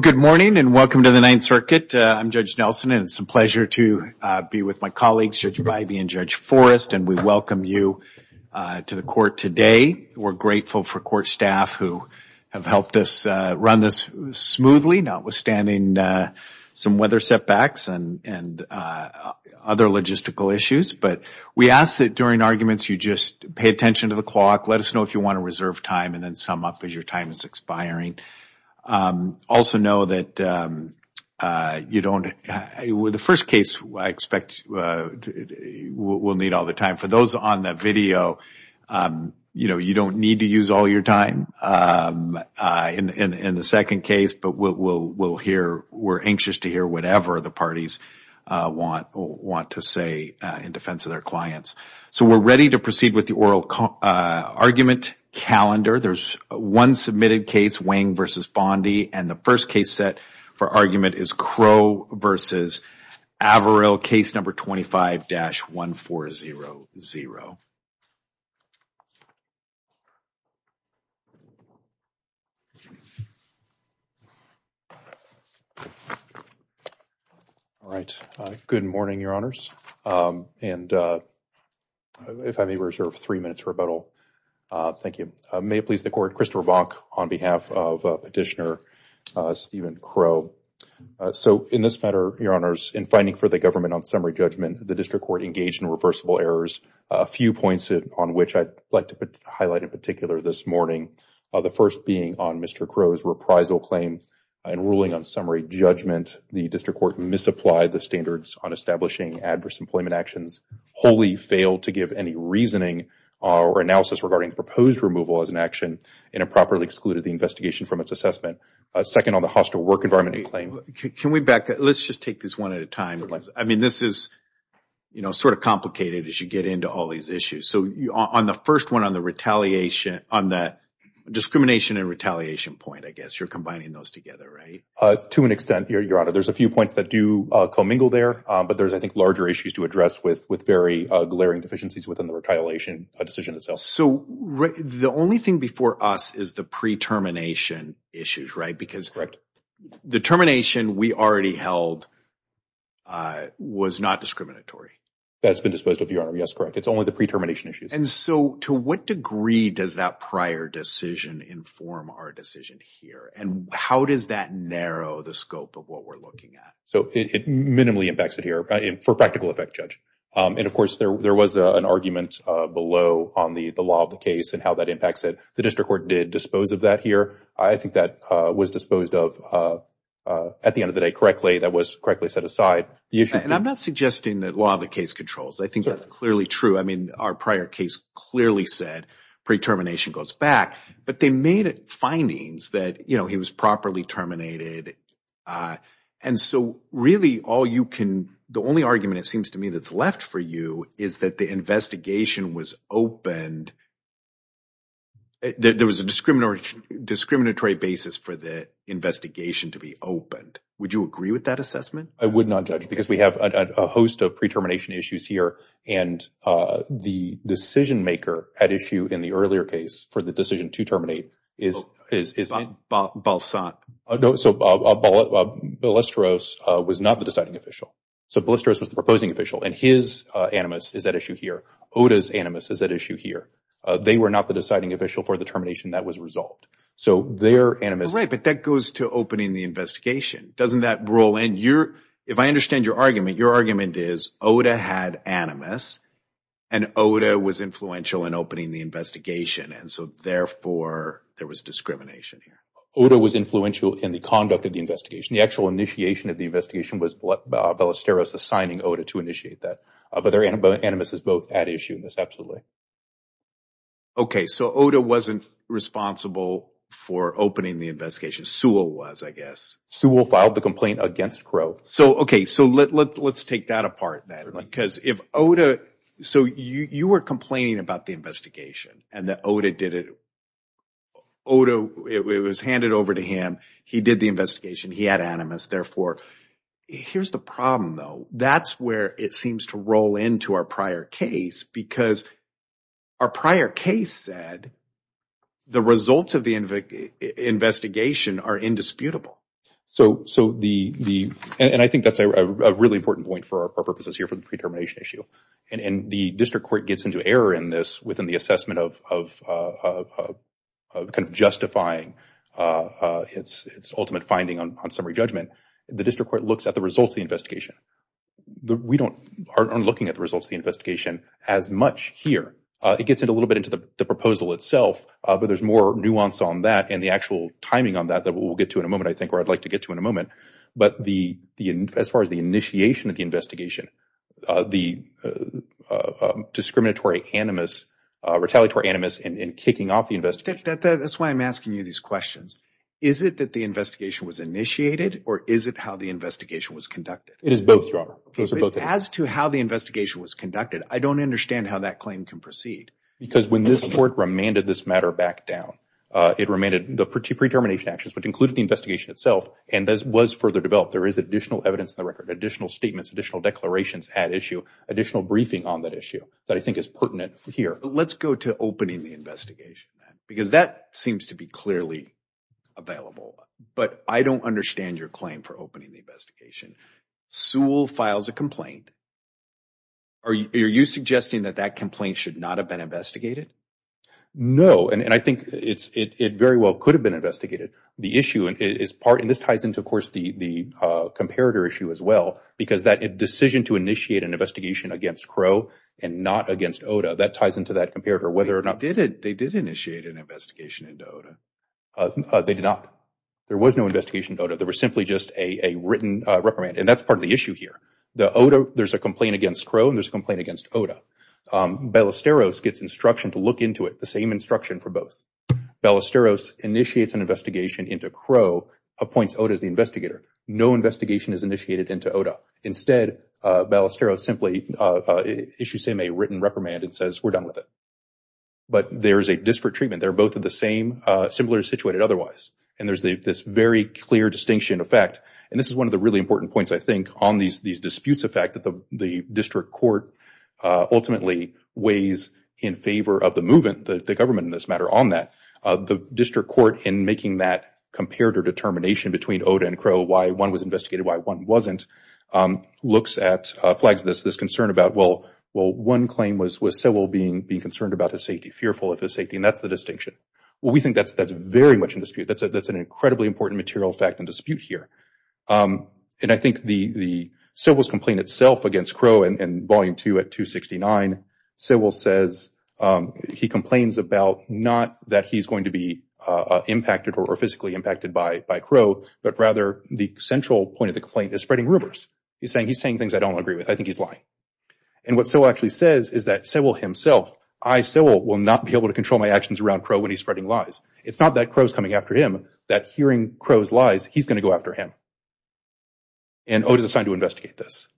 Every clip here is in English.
Good morning and welcome to the Ninth Circuit. I'm Judge Nelson and it's a pleasure to be with my colleagues, Judge Bybee and Judge Forrest, and we welcome you to the Court today. We're grateful for Court staff who have helped us run this smoothly, notwithstanding some weather setbacks and other logistical issues. We ask that during arguments you just pay attention to the clock, let us know if you want to reserve time, and then sum up as your time is expiring. Also know that the first case I expect we'll need all the time. For those on the video, you don't need to use all your time in the second case, but we're anxious to hear whatever the parties want to say in defense of their clients. We're ready to proceed with the oral argument calendar. There's one submitted case, Wang v. Bondi, and the first case set for argument is Crow v. Averill, case number 25-1400. Good morning, Your Honors, and if I may reserve three minutes for rebuttal. May it please the Court, Christopher Bonk on behalf of Petitioner Steven Crow. In this matter, Your Honors, in finding for the government on summary judgment, the District Court engaged in reversible errors. A few points on which I'd like to highlight in particular this morning. The first being on Mr. Crow's reprisal claim and ruling on summary judgment. The District Court misapplied the standards on establishing adverse employment actions, wholly failed to give any reasoning or analysis regarding proposed removal as an action, and improperly excluded the investigation from its assessment. Second, on the hostile work environment claim. Can we back up? Let's just take this one at a time. I mean, this is, you know, sort of complicated as you get into all these issues. So on the first one, on the retaliation, on the discrimination and retaliation point, I guess, you're combining those together, right? To an extent, Your Honor. There's a few points that do commingle there, but there's, I think, larger issues to address with very glaring deficiencies within the retaliation decision itself. So the only thing before us is the pre-termination issues, right? Because the termination we already held was not discriminatory. That's been disposed of, Your Honor. Yes, correct. It's only the pre-termination issues. And so to what degree does that prior decision inform our decision here? And how does that narrow the scope of what we're looking at? So it minimally impacts it here for practical effect, Judge. And of course, there was an argument below on the law of the case and that impacts it. The district court did dispose of that here. I think that was disposed of at the end of the day correctly. That was correctly set aside. And I'm not suggesting that law of the case controls. I think that's clearly true. I mean, our prior case clearly said pre-termination goes back, but they made it findings that, you know, he was properly terminated. And so really all you can, the only argument it seems to me that's left for you is that the investigation was opened. There was a discriminatory basis for the investigation to be opened. Would you agree with that assessment? I would not, Judge, because we have a host of pre-termination issues here. And the decision maker at issue in the earlier case for the decision to terminate is, is, is. Balsak. No, so Ballesteros was not the deciding official. So Ballesteros was the proposing official and his animus is at issue here. Oda's animus is at issue here. They were not the deciding official for the termination that was resolved. So their animus. Right, but that goes to opening the investigation. Doesn't that roll in your, if I understand your argument, your argument is Oda had animus and Oda was influential in opening the investigation. And so therefore there was discrimination here. Oda was influential in the investigation. The actual initiation of the investigation was Ballesteros assigning Oda to initiate that. But their animus is both at issue in this, absolutely. Okay, so Oda wasn't responsible for opening the investigation. Sewell was, I guess. Sewell filed the complaint against Crow. So, okay, so let's take that apart then. Because if Oda, so you were complaining about the investigation and that Oda did it. Oda, it was handed over to him. He did the investigation. He had animus. Therefore, here's the problem though. That's where it seems to roll into our prior case because our prior case said the results of the investigation are indisputable. So, so the, the, and I think that's a really important point for our purposes here for the district court gets into error in this within the assessment of, of, of kind of justifying its, its ultimate finding on summary judgment. The district court looks at the results of the investigation. We don't, aren't looking at the results of the investigation as much here. It gets into a little bit into the proposal itself, but there's more nuance on that and the actual timing on that that we'll get to in a moment, I think, or I'd like to get to in a moment. But the, the, as far as the initiation of the investigation, the discriminatory animus, retaliatory animus, and kicking off the investigation. That's why I'm asking you these questions. Is it that the investigation was initiated or is it how the investigation was conducted? It is both, Your Honor. It is both. As to how the investigation was conducted, I don't understand how that claim can proceed. Because when this court remanded this matter back down, it remanded the pre-termination actions, which included the investigation itself, and this was further developed. There is additional evidence in the record, additional statements, additional declarations at issue, additional briefing on that issue that I think is pertinent here. Let's go to opening the investigation, because that seems to be clearly available. But I don't understand your claim for opening the investigation. Sewell files a complaint. Are you, are you suggesting that that complaint should not have been investigated? No. And, and I think it's, it, it very well could have been investigated. The issue is part, and this ties into, of course, the, the comparator issue as well, because that decision to initiate an investigation against Crow and not against Oda, that ties into that comparator, whether or not they did, they did initiate an investigation into Oda. They did not. There was no investigation into Oda. There was simply just a, a written reprimand. And that's part of the issue here. The Oda, there's a complaint against Crow and there's a complaint against Oda. Ballesteros gets instruction to look into it, the same instruction for both. Ballesteros initiates an investigation into Crow, appoints Oda as the investigator. No investigation is initiated into Oda. Instead, Ballesteros simply issues him a written reprimand and says, we're done with it. But there is a district treatment. They're both of the same, similar situated otherwise. And there's the, this very clear distinction of fact, and this is one of the really important points, I think, on these, these disputes of fact that the, the district court ultimately weighs in favor of the movement, the government in this matter, on that. The district court in making that comparator determination between Oda and Crow, why one was investigated, why one wasn't, looks at, flags this, this concern about, well, well, one claim was, was Sewell being, being concerned about his safety, fearful of his safety. And that's the distinction. Well, we think that's, that's very much in dispute. That's a, that's an incredibly important material fact and dispute here. And I think the, the Sewell's complaint itself against Crow in, in Volume 2 at 269, Sewell says, he complains about not that he's going to be impacted or physically impacted by, by Crow, but rather the central point of the complaint is spreading rumors. He's saying, he's saying things I don't agree with. I think he's lying. And what Sewell actually says is that Sewell himself, I, Sewell, will not be able to control my actions around Crow when he's spreading lies. It's not that Crow's coming after him, that hearing Crow's lies, he's going to go after him. And Oda's assigned to investigate this.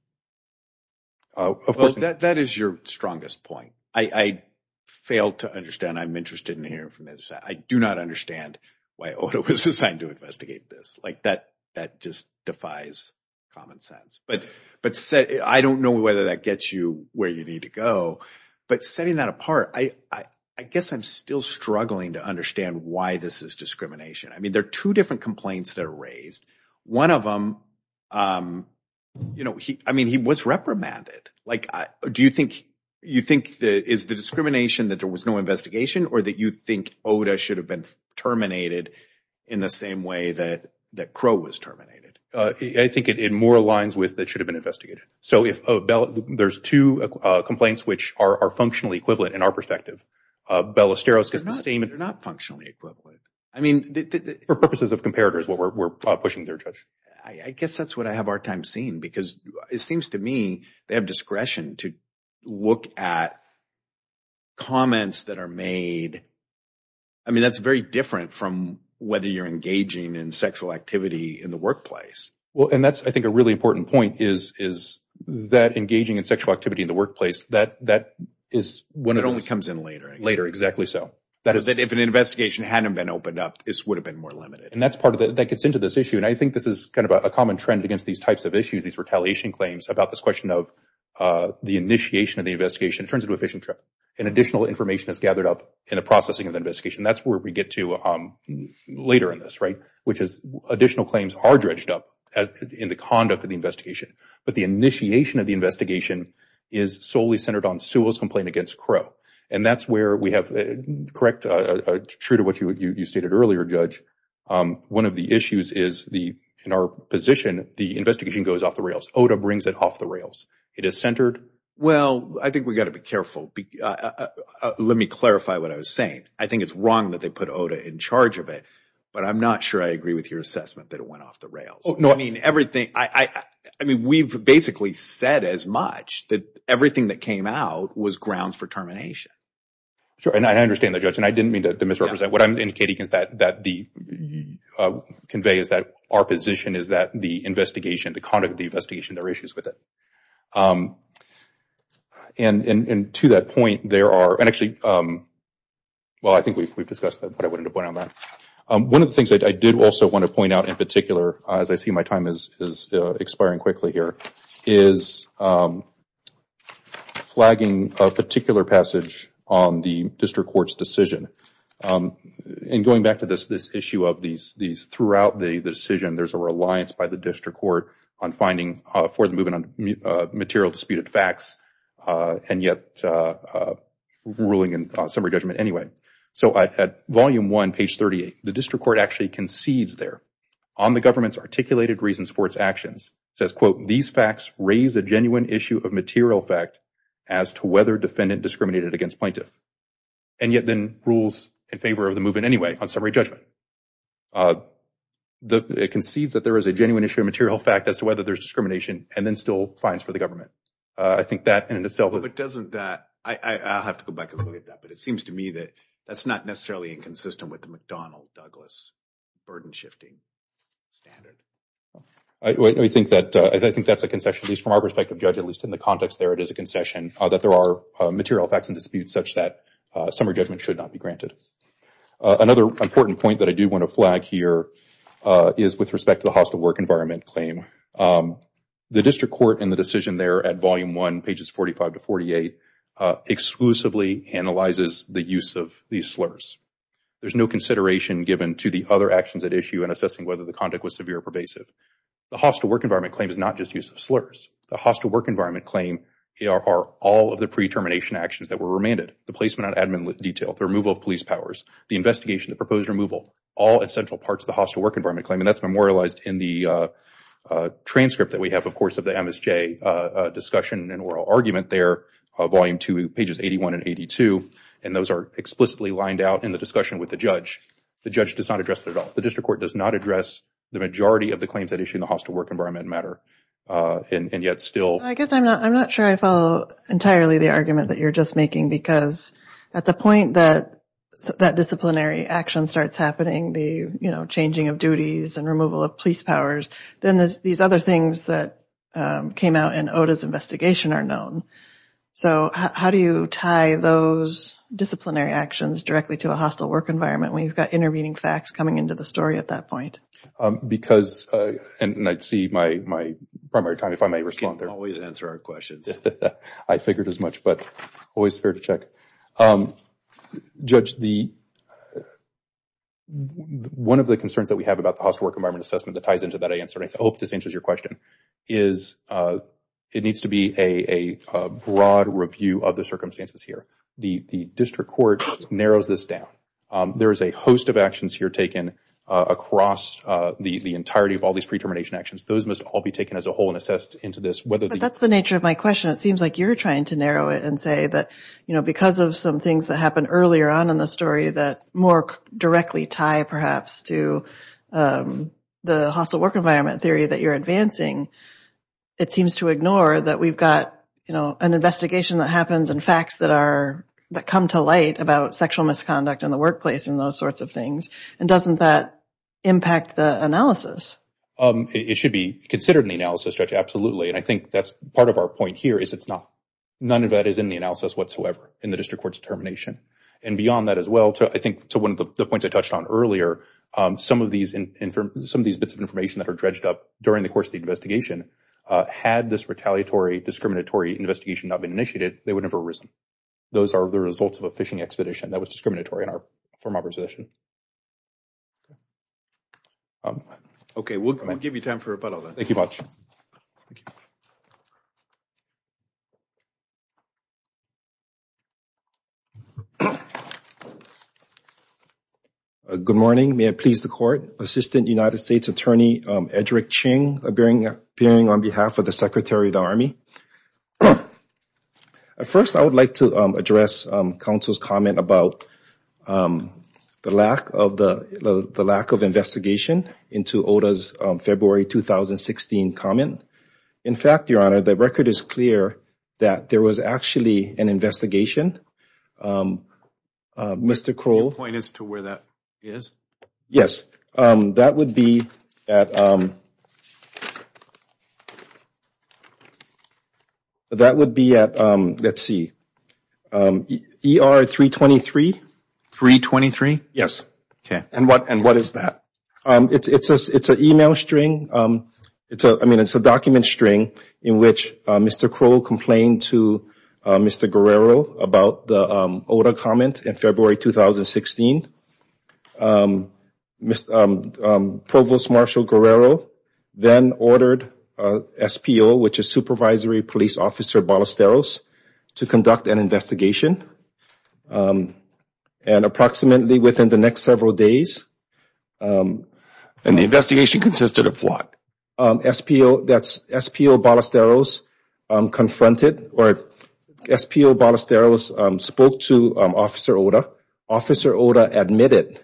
Of course, that, that is your strongest point. I, I failed to understand. I'm interested in hearing from this. I do not understand why Oda was assigned to investigate this. Like that, that just defies common sense, but, but said, I don't know whether that gets you where you need to go, but setting that apart, I, I guess I'm still struggling to understand why this is discrimination. I mean, there are two different complaints that are raised. One of them, you know, he, I mean, he was reprimanded. Like, do you think, you think that is the discrimination that there was no investigation or that you think Oda should have been terminated in the same way that, that Crow was terminated? I think it, it more aligns with that should have been investigated. So if there's two complaints, which are, are functionally equivalent in our perspective, Bell, Osteros gets the same. They're not functionally equivalent. I mean, for purposes of comparators, what we're, we're pushing their judge. I guess that's what I have our time seen because it seems to me they have discretion to look at comments that are made. I mean, that's very different from whether you're engaging in sexual activity in the workplace. Well, and that's, I think a really important point is, is that engaging in sexual activity in the workplace, that, that is when it only comes in later, later. Exactly. So that is that if an investigation hadn't been opened up, this would have been more limited. And that's part of the, that gets into this issue. And I think this is kind of a common trend against these types of issues, these retaliation claims about this question of the initiation of the investigation, it turns into a fishing trip and additional information is gathered up in the processing of the investigation. That's where we get to later in this, right? Which is additional claims are dredged up as in the conduct of the investigation. But the initiation of the investigation is solely centered on Sewell's complaint against Crow. And that's where we have correct, true to what you, you stated earlier, Judge. One of the issues is the, in our position, the investigation goes off the rails. OTA brings it off the rails. It is centered. Well, I think we got to be careful. I, let me clarify what I was saying. I think it's wrong that they put OTA in charge of it, but I'm not sure I agree with your assessment that it went off the rails. I mean, everything, I mean, we've basically said as much that everything that came out was grounds for termination. Sure. And I understand that, Judge. And I didn't mean to misrepresent, what I'm indicating is that, that the convey is that our position is that the investigation, the conduct of the investigation, there are issues with it. And, and, and to that point, there are, and actually, well, I think we've, we've discussed that, but I wouldn't have went on that. One of the things that I did also want to point out in particular, as I see my time is, is expiring quickly here, is flagging a particular passage on the district court's decision. And going back to this, this issue of these, these throughout the decision, there's a reliance by the district court on finding for the movement on material disputed facts and yet ruling in summary judgment anyway. So at volume one, page 38, the district court actually concedes there on the government's articulated reasons for its actions. It says, quote, these facts raise a genuine issue of material fact as to whether defendant discriminated against plaintiff. And yet then rules in favor of the movement anyway on summary judgment. Uh, the, it concedes that there is a genuine issue of material fact as to whether there's discrimination and then still fines for the government. Uh, I think that in itself. But doesn't that, I, I, I'll have to go back and look at that, but it seems to me that that's not necessarily inconsistent with the McDonnell Douglas burden shifting standard. I, I think that, I think that's a concession at least from our perspective, Judge, at least in the context there, it is a concession that there are material facts and disputes such that summary judgment should not be granted. Uh, another important point that I do want to flag here, uh, is with respect to the hostile work environment claim. Um, the district court and the decision there at volume one, pages 45 to 48, uh, exclusively analyzes the use of these slurs. There's no consideration given to the other actions at issue and assessing whether the conduct was severe or pervasive. The hostile work environment claim is not just use of slurs. The hostile work environment claim are all of the pre-termination actions that were remanded. The placement on admin detail, the removal of police powers, the investigation, the proposed removal, all essential parts of the hostile work environment claim, and that's memorialized in the, uh, uh, transcript that we have, of course, of the MSJ, uh, uh, discussion and oral argument there, uh, volume two, pages 81 and 82, and those are explicitly lined out in the discussion with the judge. The judge does not address that at all. The district court does not address the majority of the claims at issue in the hostile work environment matter, uh, and, and yet still. I guess I'm not, I'm not sure I follow entirely the argument that you're just making because at the point that, that disciplinary action starts happening, the, you know, changing of duties and removal of police powers, then there's these other things that, um, came out in OTA's investigation are known. So how do you tie those disciplinary actions directly to a hostile work environment when you've got intervening facts coming into the story at that point? Um, because, uh, and I'd see my primary time if I may respond there. You can always answer our questions. I figured as much, but always fair to check. Um, judge, the, one of the concerns that we have about the hostile work environment assessment that ties into that answer, and I hope this answers your question, is, uh, it needs to be a, a, a broad review of the circumstances here. The, the district court narrows this down. Um, there is a host of taken, uh, across, uh, the, the entirety of all these pre-termination actions. Those must all be taken as a whole and assessed into this, whether the- But that's the nature of my question. It seems like you're trying to narrow it and say that, you know, because of some things that happened earlier on in the story that more directly tie perhaps to, um, the hostile work environment theory that you're advancing, it seems to ignore that we've got, you know, an investigation that happens and facts that are, that come to light about sexual misconduct in the workplace and those sorts of things. And doesn't that impact the analysis? Um, it should be considered in the analysis, judge, absolutely. And I think that's part of our point here is it's not. None of that is in the analysis whatsoever in the district court's determination. And beyond that as well, to, I think, to one of the points I touched on earlier, um, some of these, some of these bits of information that are dredged up during the course of the investigation, uh, had this retaliatory, discriminatory investigation not been initiated, they would never have arisen. Those are the results of a fishing expedition that was discriminatory in our firm opposition. Okay. We'll give you time for a follow-up. Thank you much. Good morning. May it please the court, assistant United States attorney, Edrick Ching appearing, appearing on behalf of the secretary of the army. Um, at first I would like to, um, address, um, counsel's comment about, um, the lack of the, the lack of investigation into OTA's, um, February, 2016 comment. In fact, your honor, the record is clear that there was actually an investigation. Um, uh, Mr. Crow. Can you point us to where that is? Yes. Um, that would be at, um, that would be at, um, let's see, um, ER 323. 323? Yes. Okay. And what, and what is that? Um, it's, it's a, it's an email string. Um, it's a, I mean, it's a document string in which, uh, Mr. Crow complained to, uh, Mr. Guerrero about the, um, OTA comment in February, 2016. Um, Mr., um, um, Provost Marshall Guerrero then ordered, uh, SPO, which is Supervisory Police Officer Ballesteros to conduct an investigation. Um, and approximately within the next several days, um. And the investigation consisted of what? Um, SPO, that's SPO Ballesteros, um, confronted or SPO Ballesteros, um, spoke to, um, Officer Ota. Officer Ota admitted,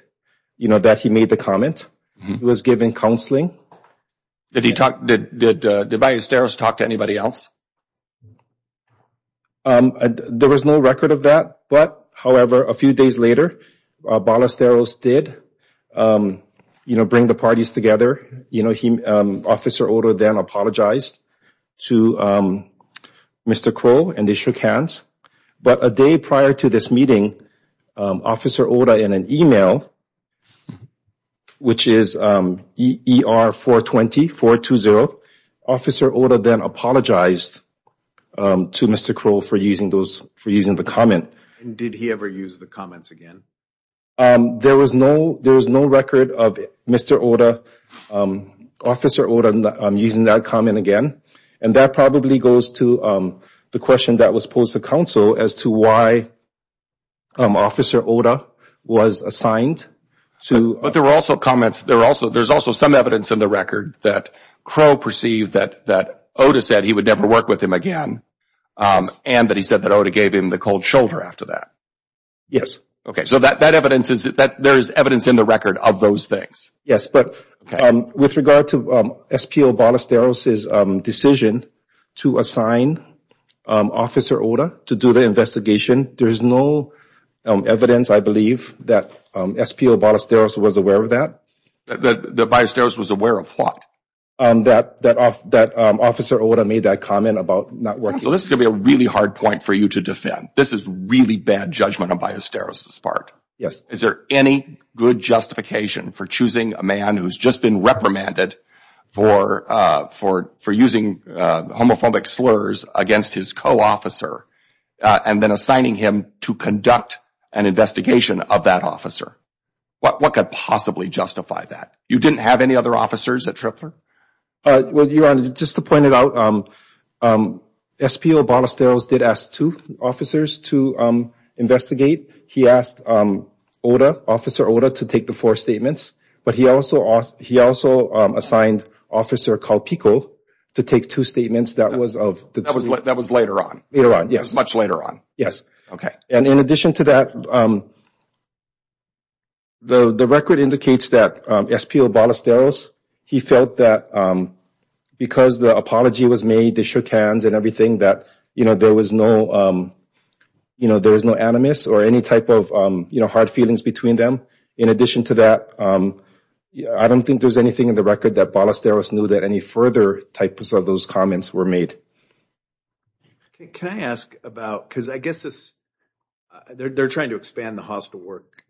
you know, that he made the comment. He was given counseling. Did he talk, did, did, uh, did Ballesteros talk to anybody else? Um, there was no record of that, but however, a few days later, uh, Ballesteros did, um, you know, bring the parties together. You know, he, um, Officer Ota then apologized to, um, Mr. Crow and they shook hands. But a day prior to this meeting, um, Officer Ota in an email, which is, um, ER 420, 420, Officer Ota then apologized, um, to Mr. Crow for using those, for using the comment. And did he ever use the comments again? Um, there was no, there was no record of Mr. Ota, um, Officer Ota, um, using that comment again. And that probably goes to, um, the question that was posed to counsel as to why, um, Officer Ota was assigned to... But there were also comments, there were also, there's also some evidence in the record that Crow perceived that, that Ota said he would never work with him again, um, and that he said that Ota gave him the cold shoulder after that. Yes. Okay. So that, that evidence is, that there is evidence in the record of those things. Yes. But, um, with regard to, um, SPO Ballesteros's, um, decision to assign, um, Officer Ota to do the investigation, there's no, um, evidence, I believe, that, um, SPO Ballesteros was aware of that. That, that Ballesteros was aware of what? Um, that, that, that, um, Officer Ota made that comment about not working... So this is going to be a really hard point for you to defend. This is really bad judgment on Ballesteros's part. Yes. Is there any good justification for choosing a man who's just been reprimanded for, uh, for, for using, uh, homophobic slurs against his co-officer, uh, and then assigning him to conduct an investigation of that officer? What, what could possibly justify that? You didn't have any other officers at Tripler? Uh, well, Your Honor, just to point it out, um, um, SPO Ballesteros did ask two officers to, um, investigate. He asked, um, Ota, Officer Ota to take the four statements, but he also asked, he also, um, assigned Officer Kalpiko to take two statements that was of... That was, that was later on. Later on, yes. Much later on. Yes. Okay. And in addition to that, um, the, the record indicates that, um, SPO Ballesteros, he felt that, um, because the apology was made, they shook hands and everything, that, you know, there was no, um, you know, there was no animus or any type of, um, you know, hard feelings between them. In addition to that, um, I don't think there's anything in the record that Ballesteros knew that any further types of those comments were made. Okay. Can I ask about, because I guess this, they're trying to expand the hostile work,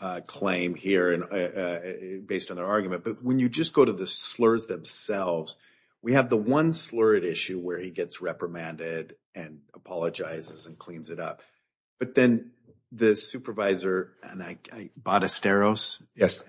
uh, claim here and, uh, based on their argument, but when you just go to the slurs themselves, we have the one slur at issue where he gets reprimanded and apologizes and cleans it up, but then the supervisor and I, Ballesteros. Yes.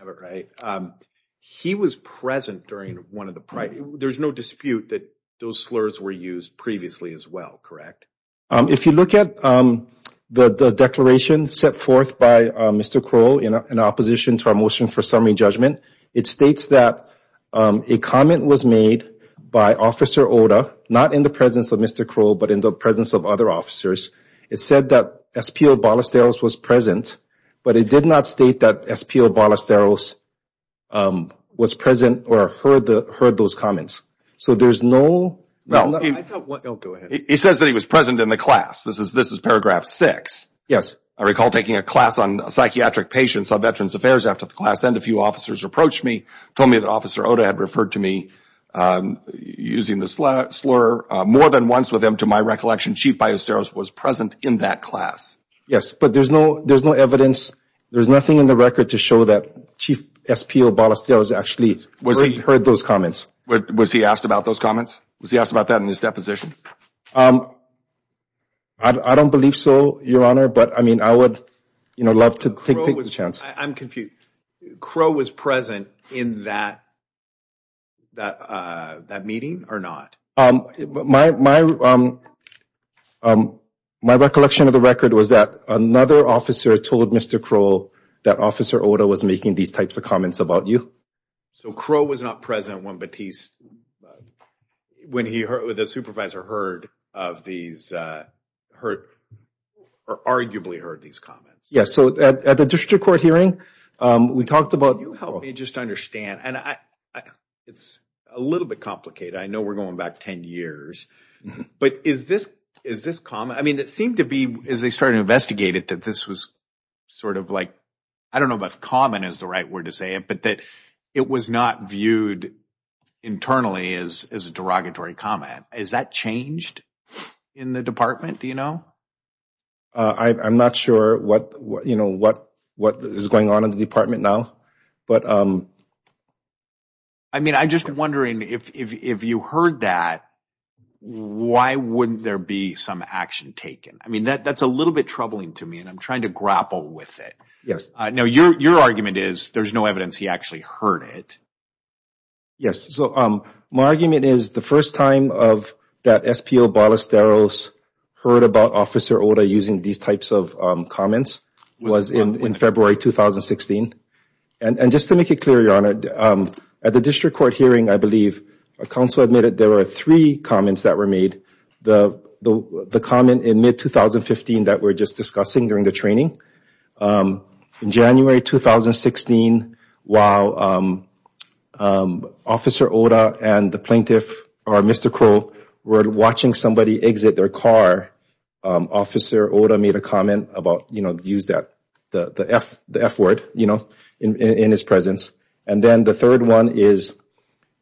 He was present during one of the... There's no dispute that those slurs were used previously as well, correct? Um, if you look at, um, the, the declaration set forth by, um, Mr. Crow in opposition to our motion for summary judgment, it states that, um, a comment was made by Officer Oda, not in the presence of Mr. Crow, but in the presence of other officers. It said that SPO Ballesteros was present, but it did not state that SPO Ballesteros, um, was present or heard the, heard those comments. So there's no... Well, he says that he was present in the class. This is, paragraph six. Yes. I recall taking a class on psychiatric patients on Veterans Affairs after the class and a few officers approached me, told me that Officer Oda had referred to me, um, using the slur, uh, more than once with him to my recollection, Chief Ballesteros was present in that class. Yes, but there's no, there's no evidence. There's nothing in the record to show that Chief SPO Ballesteros actually heard those comments. Was he asked about those comments? Was he asked about that in his deposition? Um, I, I don't believe so, Your Honor, but I mean, I would, you know, love to take the chance. I'm confused. Crow was present in that, that, uh, that meeting or not? Um, my, my, um, um, my recollection of the record was that another officer told Mr. Crow that Officer Oda was making these types of comments about you. So Crow was not present when Batiste, when he heard, when the supervisor heard of these, uh, heard, or arguably heard these comments? Yes. So at, at the district court hearing, um, we talked about... Can you help me just understand? And I, I, it's a little bit complicated. I know we're going back 10 years, but is this, is this common? I mean, it seemed to be, as they started to investigate it, that this was sort of like, I don't know if common is the right word to say it, but that it was not viewed internally as, as a derogatory comment. Is that changed in the department? Do you know? Uh, I, I'm not sure what, what, you know, what, what is going on in the department now, but, um... I mean, I'm just wondering if, if, if you heard that, why wouldn't there be some action taken? I mean, that, that's a little bit troubling to me and I'm trying to grapple with it. Yes. Uh, now your, your argument is there's no evidence he actually heard it. Yes. So, um, my argument is the first time of that SPO Ballesteros heard about Officer Oda using these types of, um, comments was in, in February, 2016. And, and just to make it clear, Your Honor, um, at the district court hearing, I believe a council admitted there were three comments that were made. The, the, the comment in mid 2015 that we're just discussing during the training, um, in January, 2016, while, um, um, Officer Oda and the plaintiff or Mr. Crow were watching somebody exit their car, um, Officer Oda made a comment about, you know, use that, the, the F, the F word, you know, in, in his presence. And then the third one is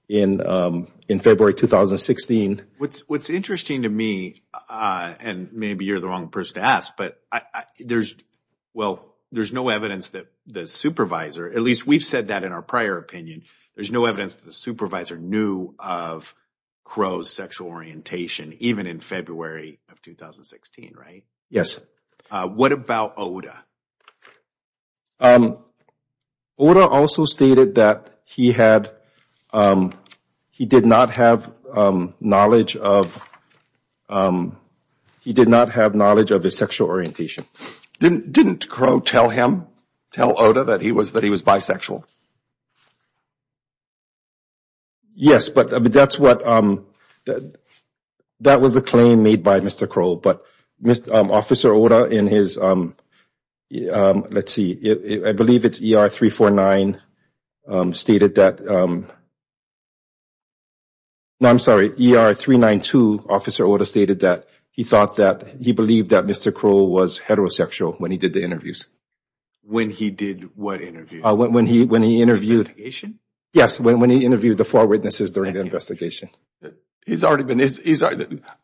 in, um, in February, 2016. What's, what's interesting to me, uh, and maybe you're the wrong person to ask, but I, I, there's, well, there's no evidence that the supervisor, at least we've said that in our prior opinion, there's no evidence that the supervisor knew of Crow's sexual orientation, even in February of 2016, right? Yes. Uh, what about Oda? Um, Oda also stated that he had, um, he did not have, um, knowledge of, um, he did not have knowledge of his sexual orientation. Didn't, didn't Crow tell him, tell Oda that he was, that he was bisexual? Yes, but, but that's what, um, that, that was a claim made by Mr. Crow, but Mr., um, Officer Oda in his, um, um, let's see, I believe it's ER 349, um, stated that, um, no, I'm sorry, ER 392, Officer Oda stated that he thought that, he believed that Mr. Crow was heterosexual when he did the interviews. When he did what interview? Uh, when, when he, when he interviewed. Investigation? Yes, when, when he interviewed the four witnesses during the investigation. He's already been, he's, he's,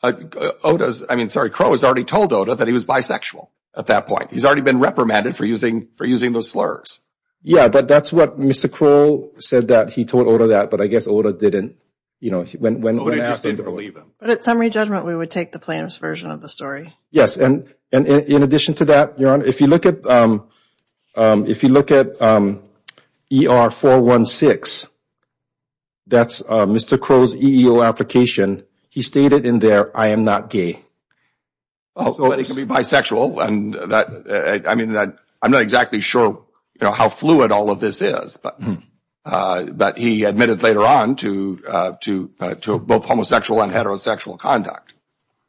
Oda's, I mean, sorry, Crow has already told Oda that he was bisexual at that point. He's already been reprimanded for using, for using those slurs. Yeah, but that's what Mr. Crow said that he told Oda that, but I guess Oda didn't, you know, when, when, when asked him to believe him. But at summary judgment, we would take the plaintiff's version of the story. Yes, and, and in addition to that, Your Honor, if you look at, um, um, if you look at, um, ER 416, that's, uh, Mr. Crow's EEO application. He stated in there, I am not gay. But he can be bisexual and that, I mean, that I'm not exactly sure, you know, how fluid all of this is, but, uh, but he admitted later on to, uh, to, uh, to both homosexual and heterosexual conduct.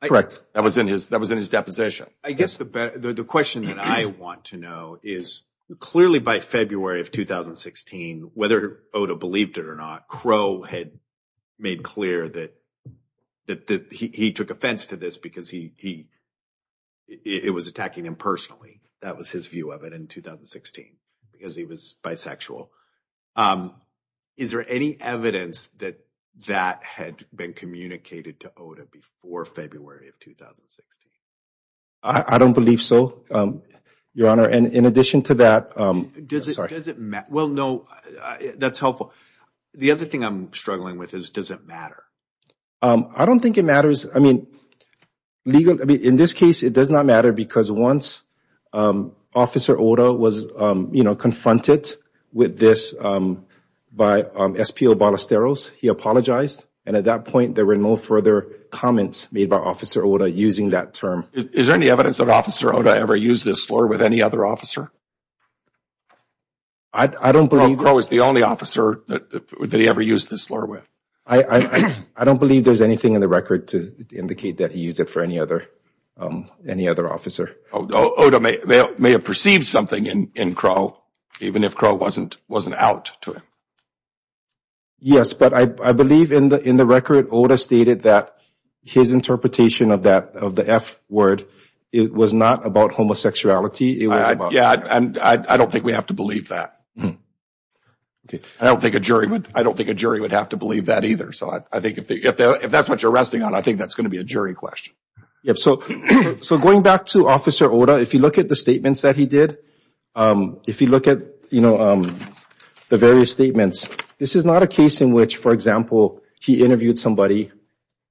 Correct. That was in his, that was in his deposition. I guess the, the question that I want to know is clearly by February of 2016, whether Oda believed it or not, Crow had made clear that, that he took offense to this because he, he, it was attacking him personally. That was his view of it in 2016 because he was bisexual. Um, is there any evidence that that had been communicated to Oda before February of 2016? I don't believe so, um, Your Honor. And in addition to that, um, does it, does it matter? Well, no, that's helpful. The other thing I'm struggling with is does it matter? Um, I don't think it matters. I mean, legal, I mean, in this case, it does not matter because once, um, Officer Oda was, um, you know, confronted with this, um, by, um, SPO Ballesteros, he apologized. And at that point, there were no further comments made by Officer Oda using that term. Is there any evidence that Officer Oda ever used this slur with any other officer? I, I don't believe... Crow is the only officer that, that he ever used this slur with. I, I, I don't believe there's anything in the record to indicate that he used it for any other, um, any other officer. Oda may, may have perceived something in, in Crow, even if Crow wasn't, wasn't out to him. Yes, but I, I believe in the, in the record, Oda stated that his interpretation of that, of the F word, it was not about homosexuality. It was about... Yeah, and I, I don't think we have to believe that. I don't think a jury would, I don't think a jury would have to believe that either. So I, I think if, if that's what you're resting on, I think that's going to be a jury question. Yep. So, so going back to Officer Oda, if you look at the statements that he did, um, if you look at, you know, um, the various statements, this is not a case in which, for example, he interviewed somebody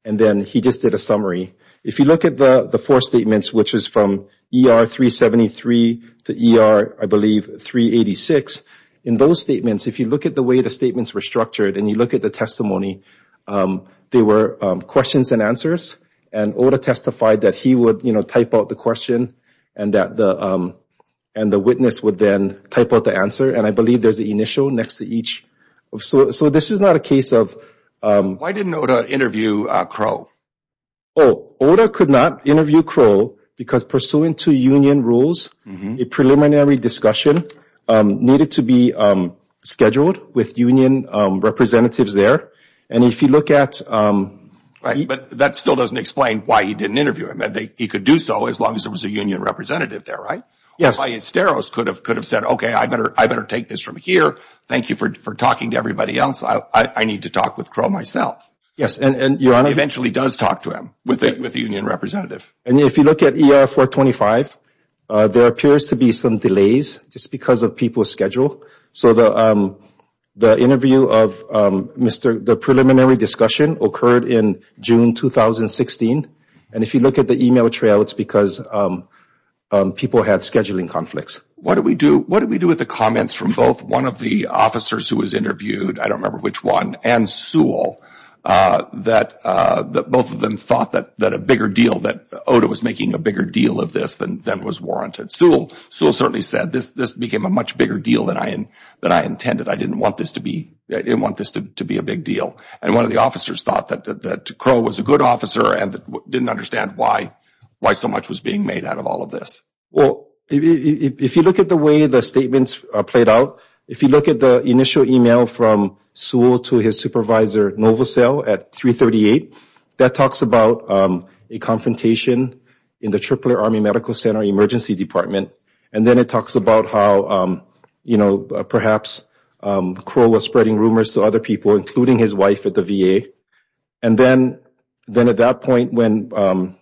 and then he just did a summary. If you look at the, the four statements, which is from ER 373 to ER, I believe 386. In those statements, if you look at the way the statements were structured and you look at the testimony, um, they were, um, questions and answers and Oda testified that he would, you know, type out the question and that the, um, and the witness would then type out the answer. And I believe there's the initial next to each. So, so this is not a case of, um... Why didn't Oda interview, uh, Crow? Oh, Oda could not interview Crow because pursuant to union rules, a preliminary discussion, um, needed to be, um, scheduled with union, um, representatives there. And if you look at, um... Right. But that still doesn't explain why he didn't interview him. He could do so as long as there was a union representative there, right? Yes. Why Esteros could have, could have said, okay, I better, I better take this from here. Thank you for, for talking to everybody else. I, I need to talk with Crow myself. Yes. And, and Your Honor... Eventually does talk to him with the, with the union representative. And if you look at ER 425, uh, there appears to be some delays just because of people's schedule. So the, um, the interview of, um, Mr., the preliminary discussion occurred in June 2016. And if you look at the email trail, it's because, um, um, people had scheduling conflicts. What do we do, what do we do with the comments from both one of the officers who was interviewed, I don't remember which one, and Sewell, uh, that, uh, that both of them thought that, that a bigger deal, that OTA was making a bigger deal of this than, than was warranted. Sewell, Sewell certainly said this, this became a much bigger deal than I, than I intended. I didn't want this to be, I didn't want this to be a big deal. And one of the officers thought that, that Crow was a good officer and didn't understand why, why so much was being made out of all of this. Well, if you look at the way the statements are played out, if you look at the initial email from Sewell to his supervisor, Novosel at 338, that talks about, um, a confrontation in the Tripler Army Medical Center Emergency Department. And then it talks about how, um, you know, perhaps, um, Crow was spreading rumors to other people, including his wife at the VA. And then, then at that point when, um,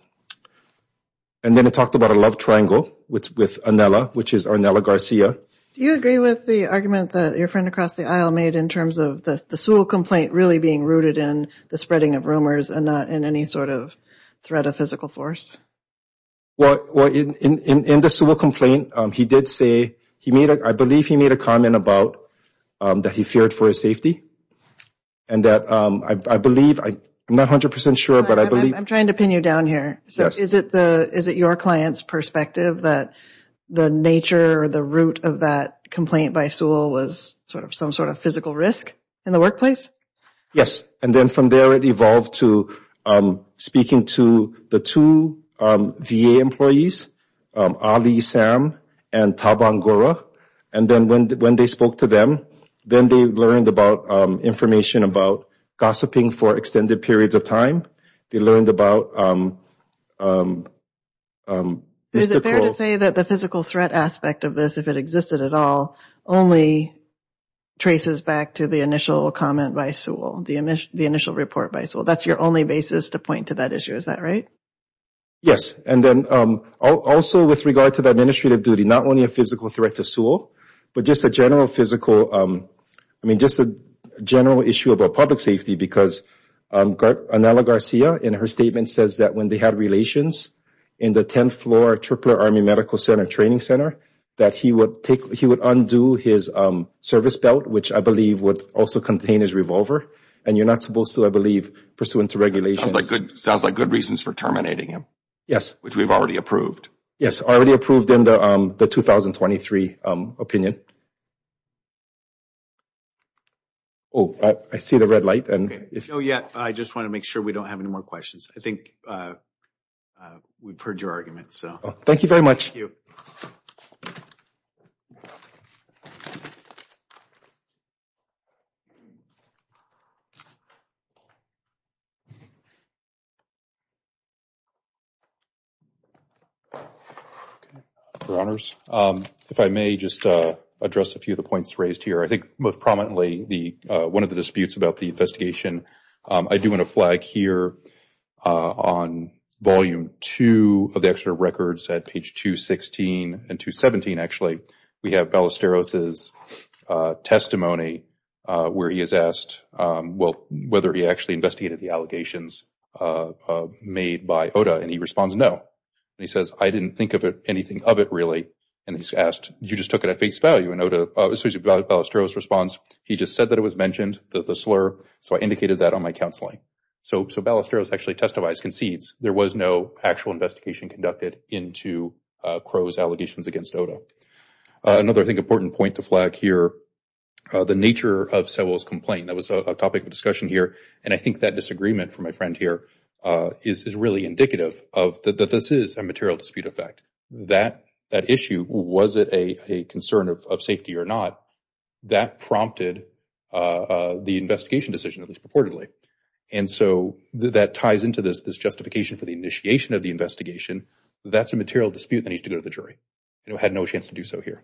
and then it talked about a love triangle with, with Arnella, which is Arnella Garcia. Do you agree with the argument that your across the aisle made in terms of the Sewell complaint really being rooted in the spreading of rumors and not in any sort of threat of physical force? Well, well, in, in, in the Sewell complaint, um, he did say, he made a, I believe he made a comment about, um, that he feared for his safety. And that, um, I, I believe, I'm not 100% sure, but I believe. I'm trying to pin you down here. So is it the, is it your client's perspective that the nature or the root of that complaint by Sewell was sort of some sort of physical risk in the workplace? Yes. And then from there it evolved to, um, speaking to the two, um, VA employees, um, Ali, Sam, and Tabangura. And then when, when they spoke to them, then they learned about, um, information about gossiping for extended periods of time. They learned about, um, um, um. Is it fair to say that the physical threat aspect of this, if it existed at all, only traces back to the initial comment by Sewell, the, the initial report by Sewell? That's your only basis to point to that issue, is that right? Yes. And then, um, also with regard to the administrative duty, not only a physical threat to Sewell, but just a general physical, um, I mean, just a general issue about public safety, because, um, Garcia, in her statement says that when they had relations in the 10th floor Army Medical Center Training Center, that he would take, he would undo his, um, service belt, which I believe would also contain his revolver. And you're not supposed to, I believe, pursuant to regulations. Sounds like good, sounds like good reasons for terminating him. Yes. Which we've already approved. Yes, already approved in the, um, the 2023, um, opinion. Oh, I, I see the red light. And if. No, yet, I just want to make sure we don't have any more questions. I think, uh, uh, we've heard your argument, so. Thank you very much. Your Honors, um, if I may just, uh, address a few of the points raised here. I think most prominently the, uh, one of the disputes about the investigation, um, I do want to flag here, uh, on volume two of the extra records at page 216 and 217, actually, we have Ballesteros's, uh, testimony, uh, where he is asked, um, well, whether he actually investigated the allegations, uh, uh, made by OTA, and he responds, no. And he says, I didn't think of it, anything of it, really. And he's asked, you just took it at face value. And OTA, uh, excuse me, Ballesteros responds, he just said that it was mentioned, the, the slur, so I indicated that on my counseling. So, so Ballesteros actually testifies, concedes there was no actual investigation conducted into, uh, Crowe's allegations against OTA. Uh, another, I think, important point to flag here, uh, the nature of Sewell's complaint. That was a topic of discussion here, and I think that disagreement from my friend here, uh, is, is really indicative of the, that this is a material dispute effect. That, that issue, was it a, a concern of, of safety or not, that prompted, uh, uh, the investigation decision, at least purportedly. And so, that ties into this, this justification for the initiation of the investigation, that's a material dispute that needs to go to the jury, and it had no chance to do so here.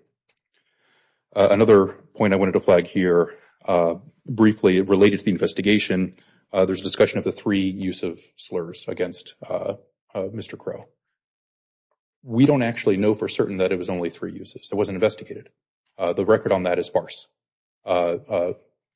Uh, another point I wanted to flag here, uh, briefly, related to the investigation, uh, there's a discussion of the three use of slurs against, uh, uh, Mr. Crowe. We don't actually know for certain that it was only three uses. It wasn't investigated. Uh, the record on that is sparse. Uh, uh,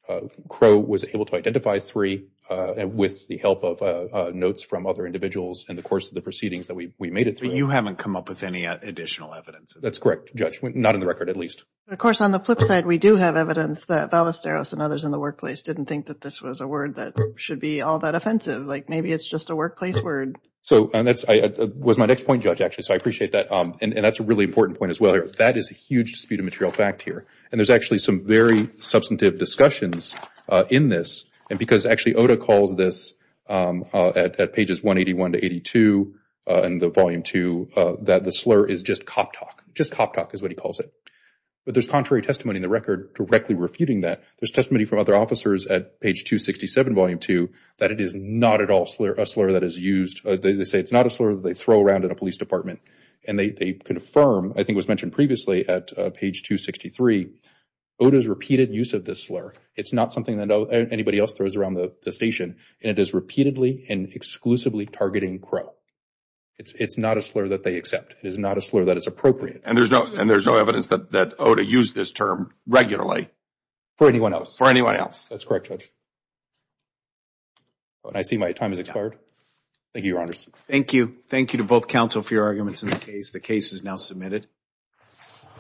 uh, Crowe was able to identify three, uh, and with the help of, uh, uh, notes from other individuals in the course of the proceedings that we, we made it through. But you haven't come up with any additional evidence? That's correct, Judge. Not in the record, at least. Of course, on the flip side, we do have evidence that Ballesteros and others in the workplace didn't think that this was a word that should be all that offensive. Like, maybe it's just a workplace word. So, and that's, I, uh, was my next point, Judge, actually, so I appreciate that, um, and, and that's a really important point, as well, here. That is a huge dispute of material fact, here, and there's actually some very substantive discussions, uh, in this, and because, actually, OTA calls this, um, uh, at, at pages 181 to 82, uh, in the volume two, uh, that the slur is just cop talk, just cop talk is what he calls it. But there's contrary testimony in the record directly refuting that. There's testimony from other officers at page 267, volume two, that it is not at all slur, a slur that is used, uh, they, they say it's not a slur that they throw around in a police department, and they, they confirm, I think it was mentioned previously, at, uh, page 263, OTA's repeated use of this slur. It's not something that, uh, anybody else throws around the station, and it is repeatedly and exclusively targeting Crow. It's, it's not a slur that they accept. It is not a slur that is appropriate. And there's no, and there's no evidence that, that OTA used this term regularly. For anyone else. For anyone else. That's correct, Judge. And I see my time has expired. Thank you, Your Honors. Thank you. Thank you to both counsel for your arguments in the case. The case is now submitted.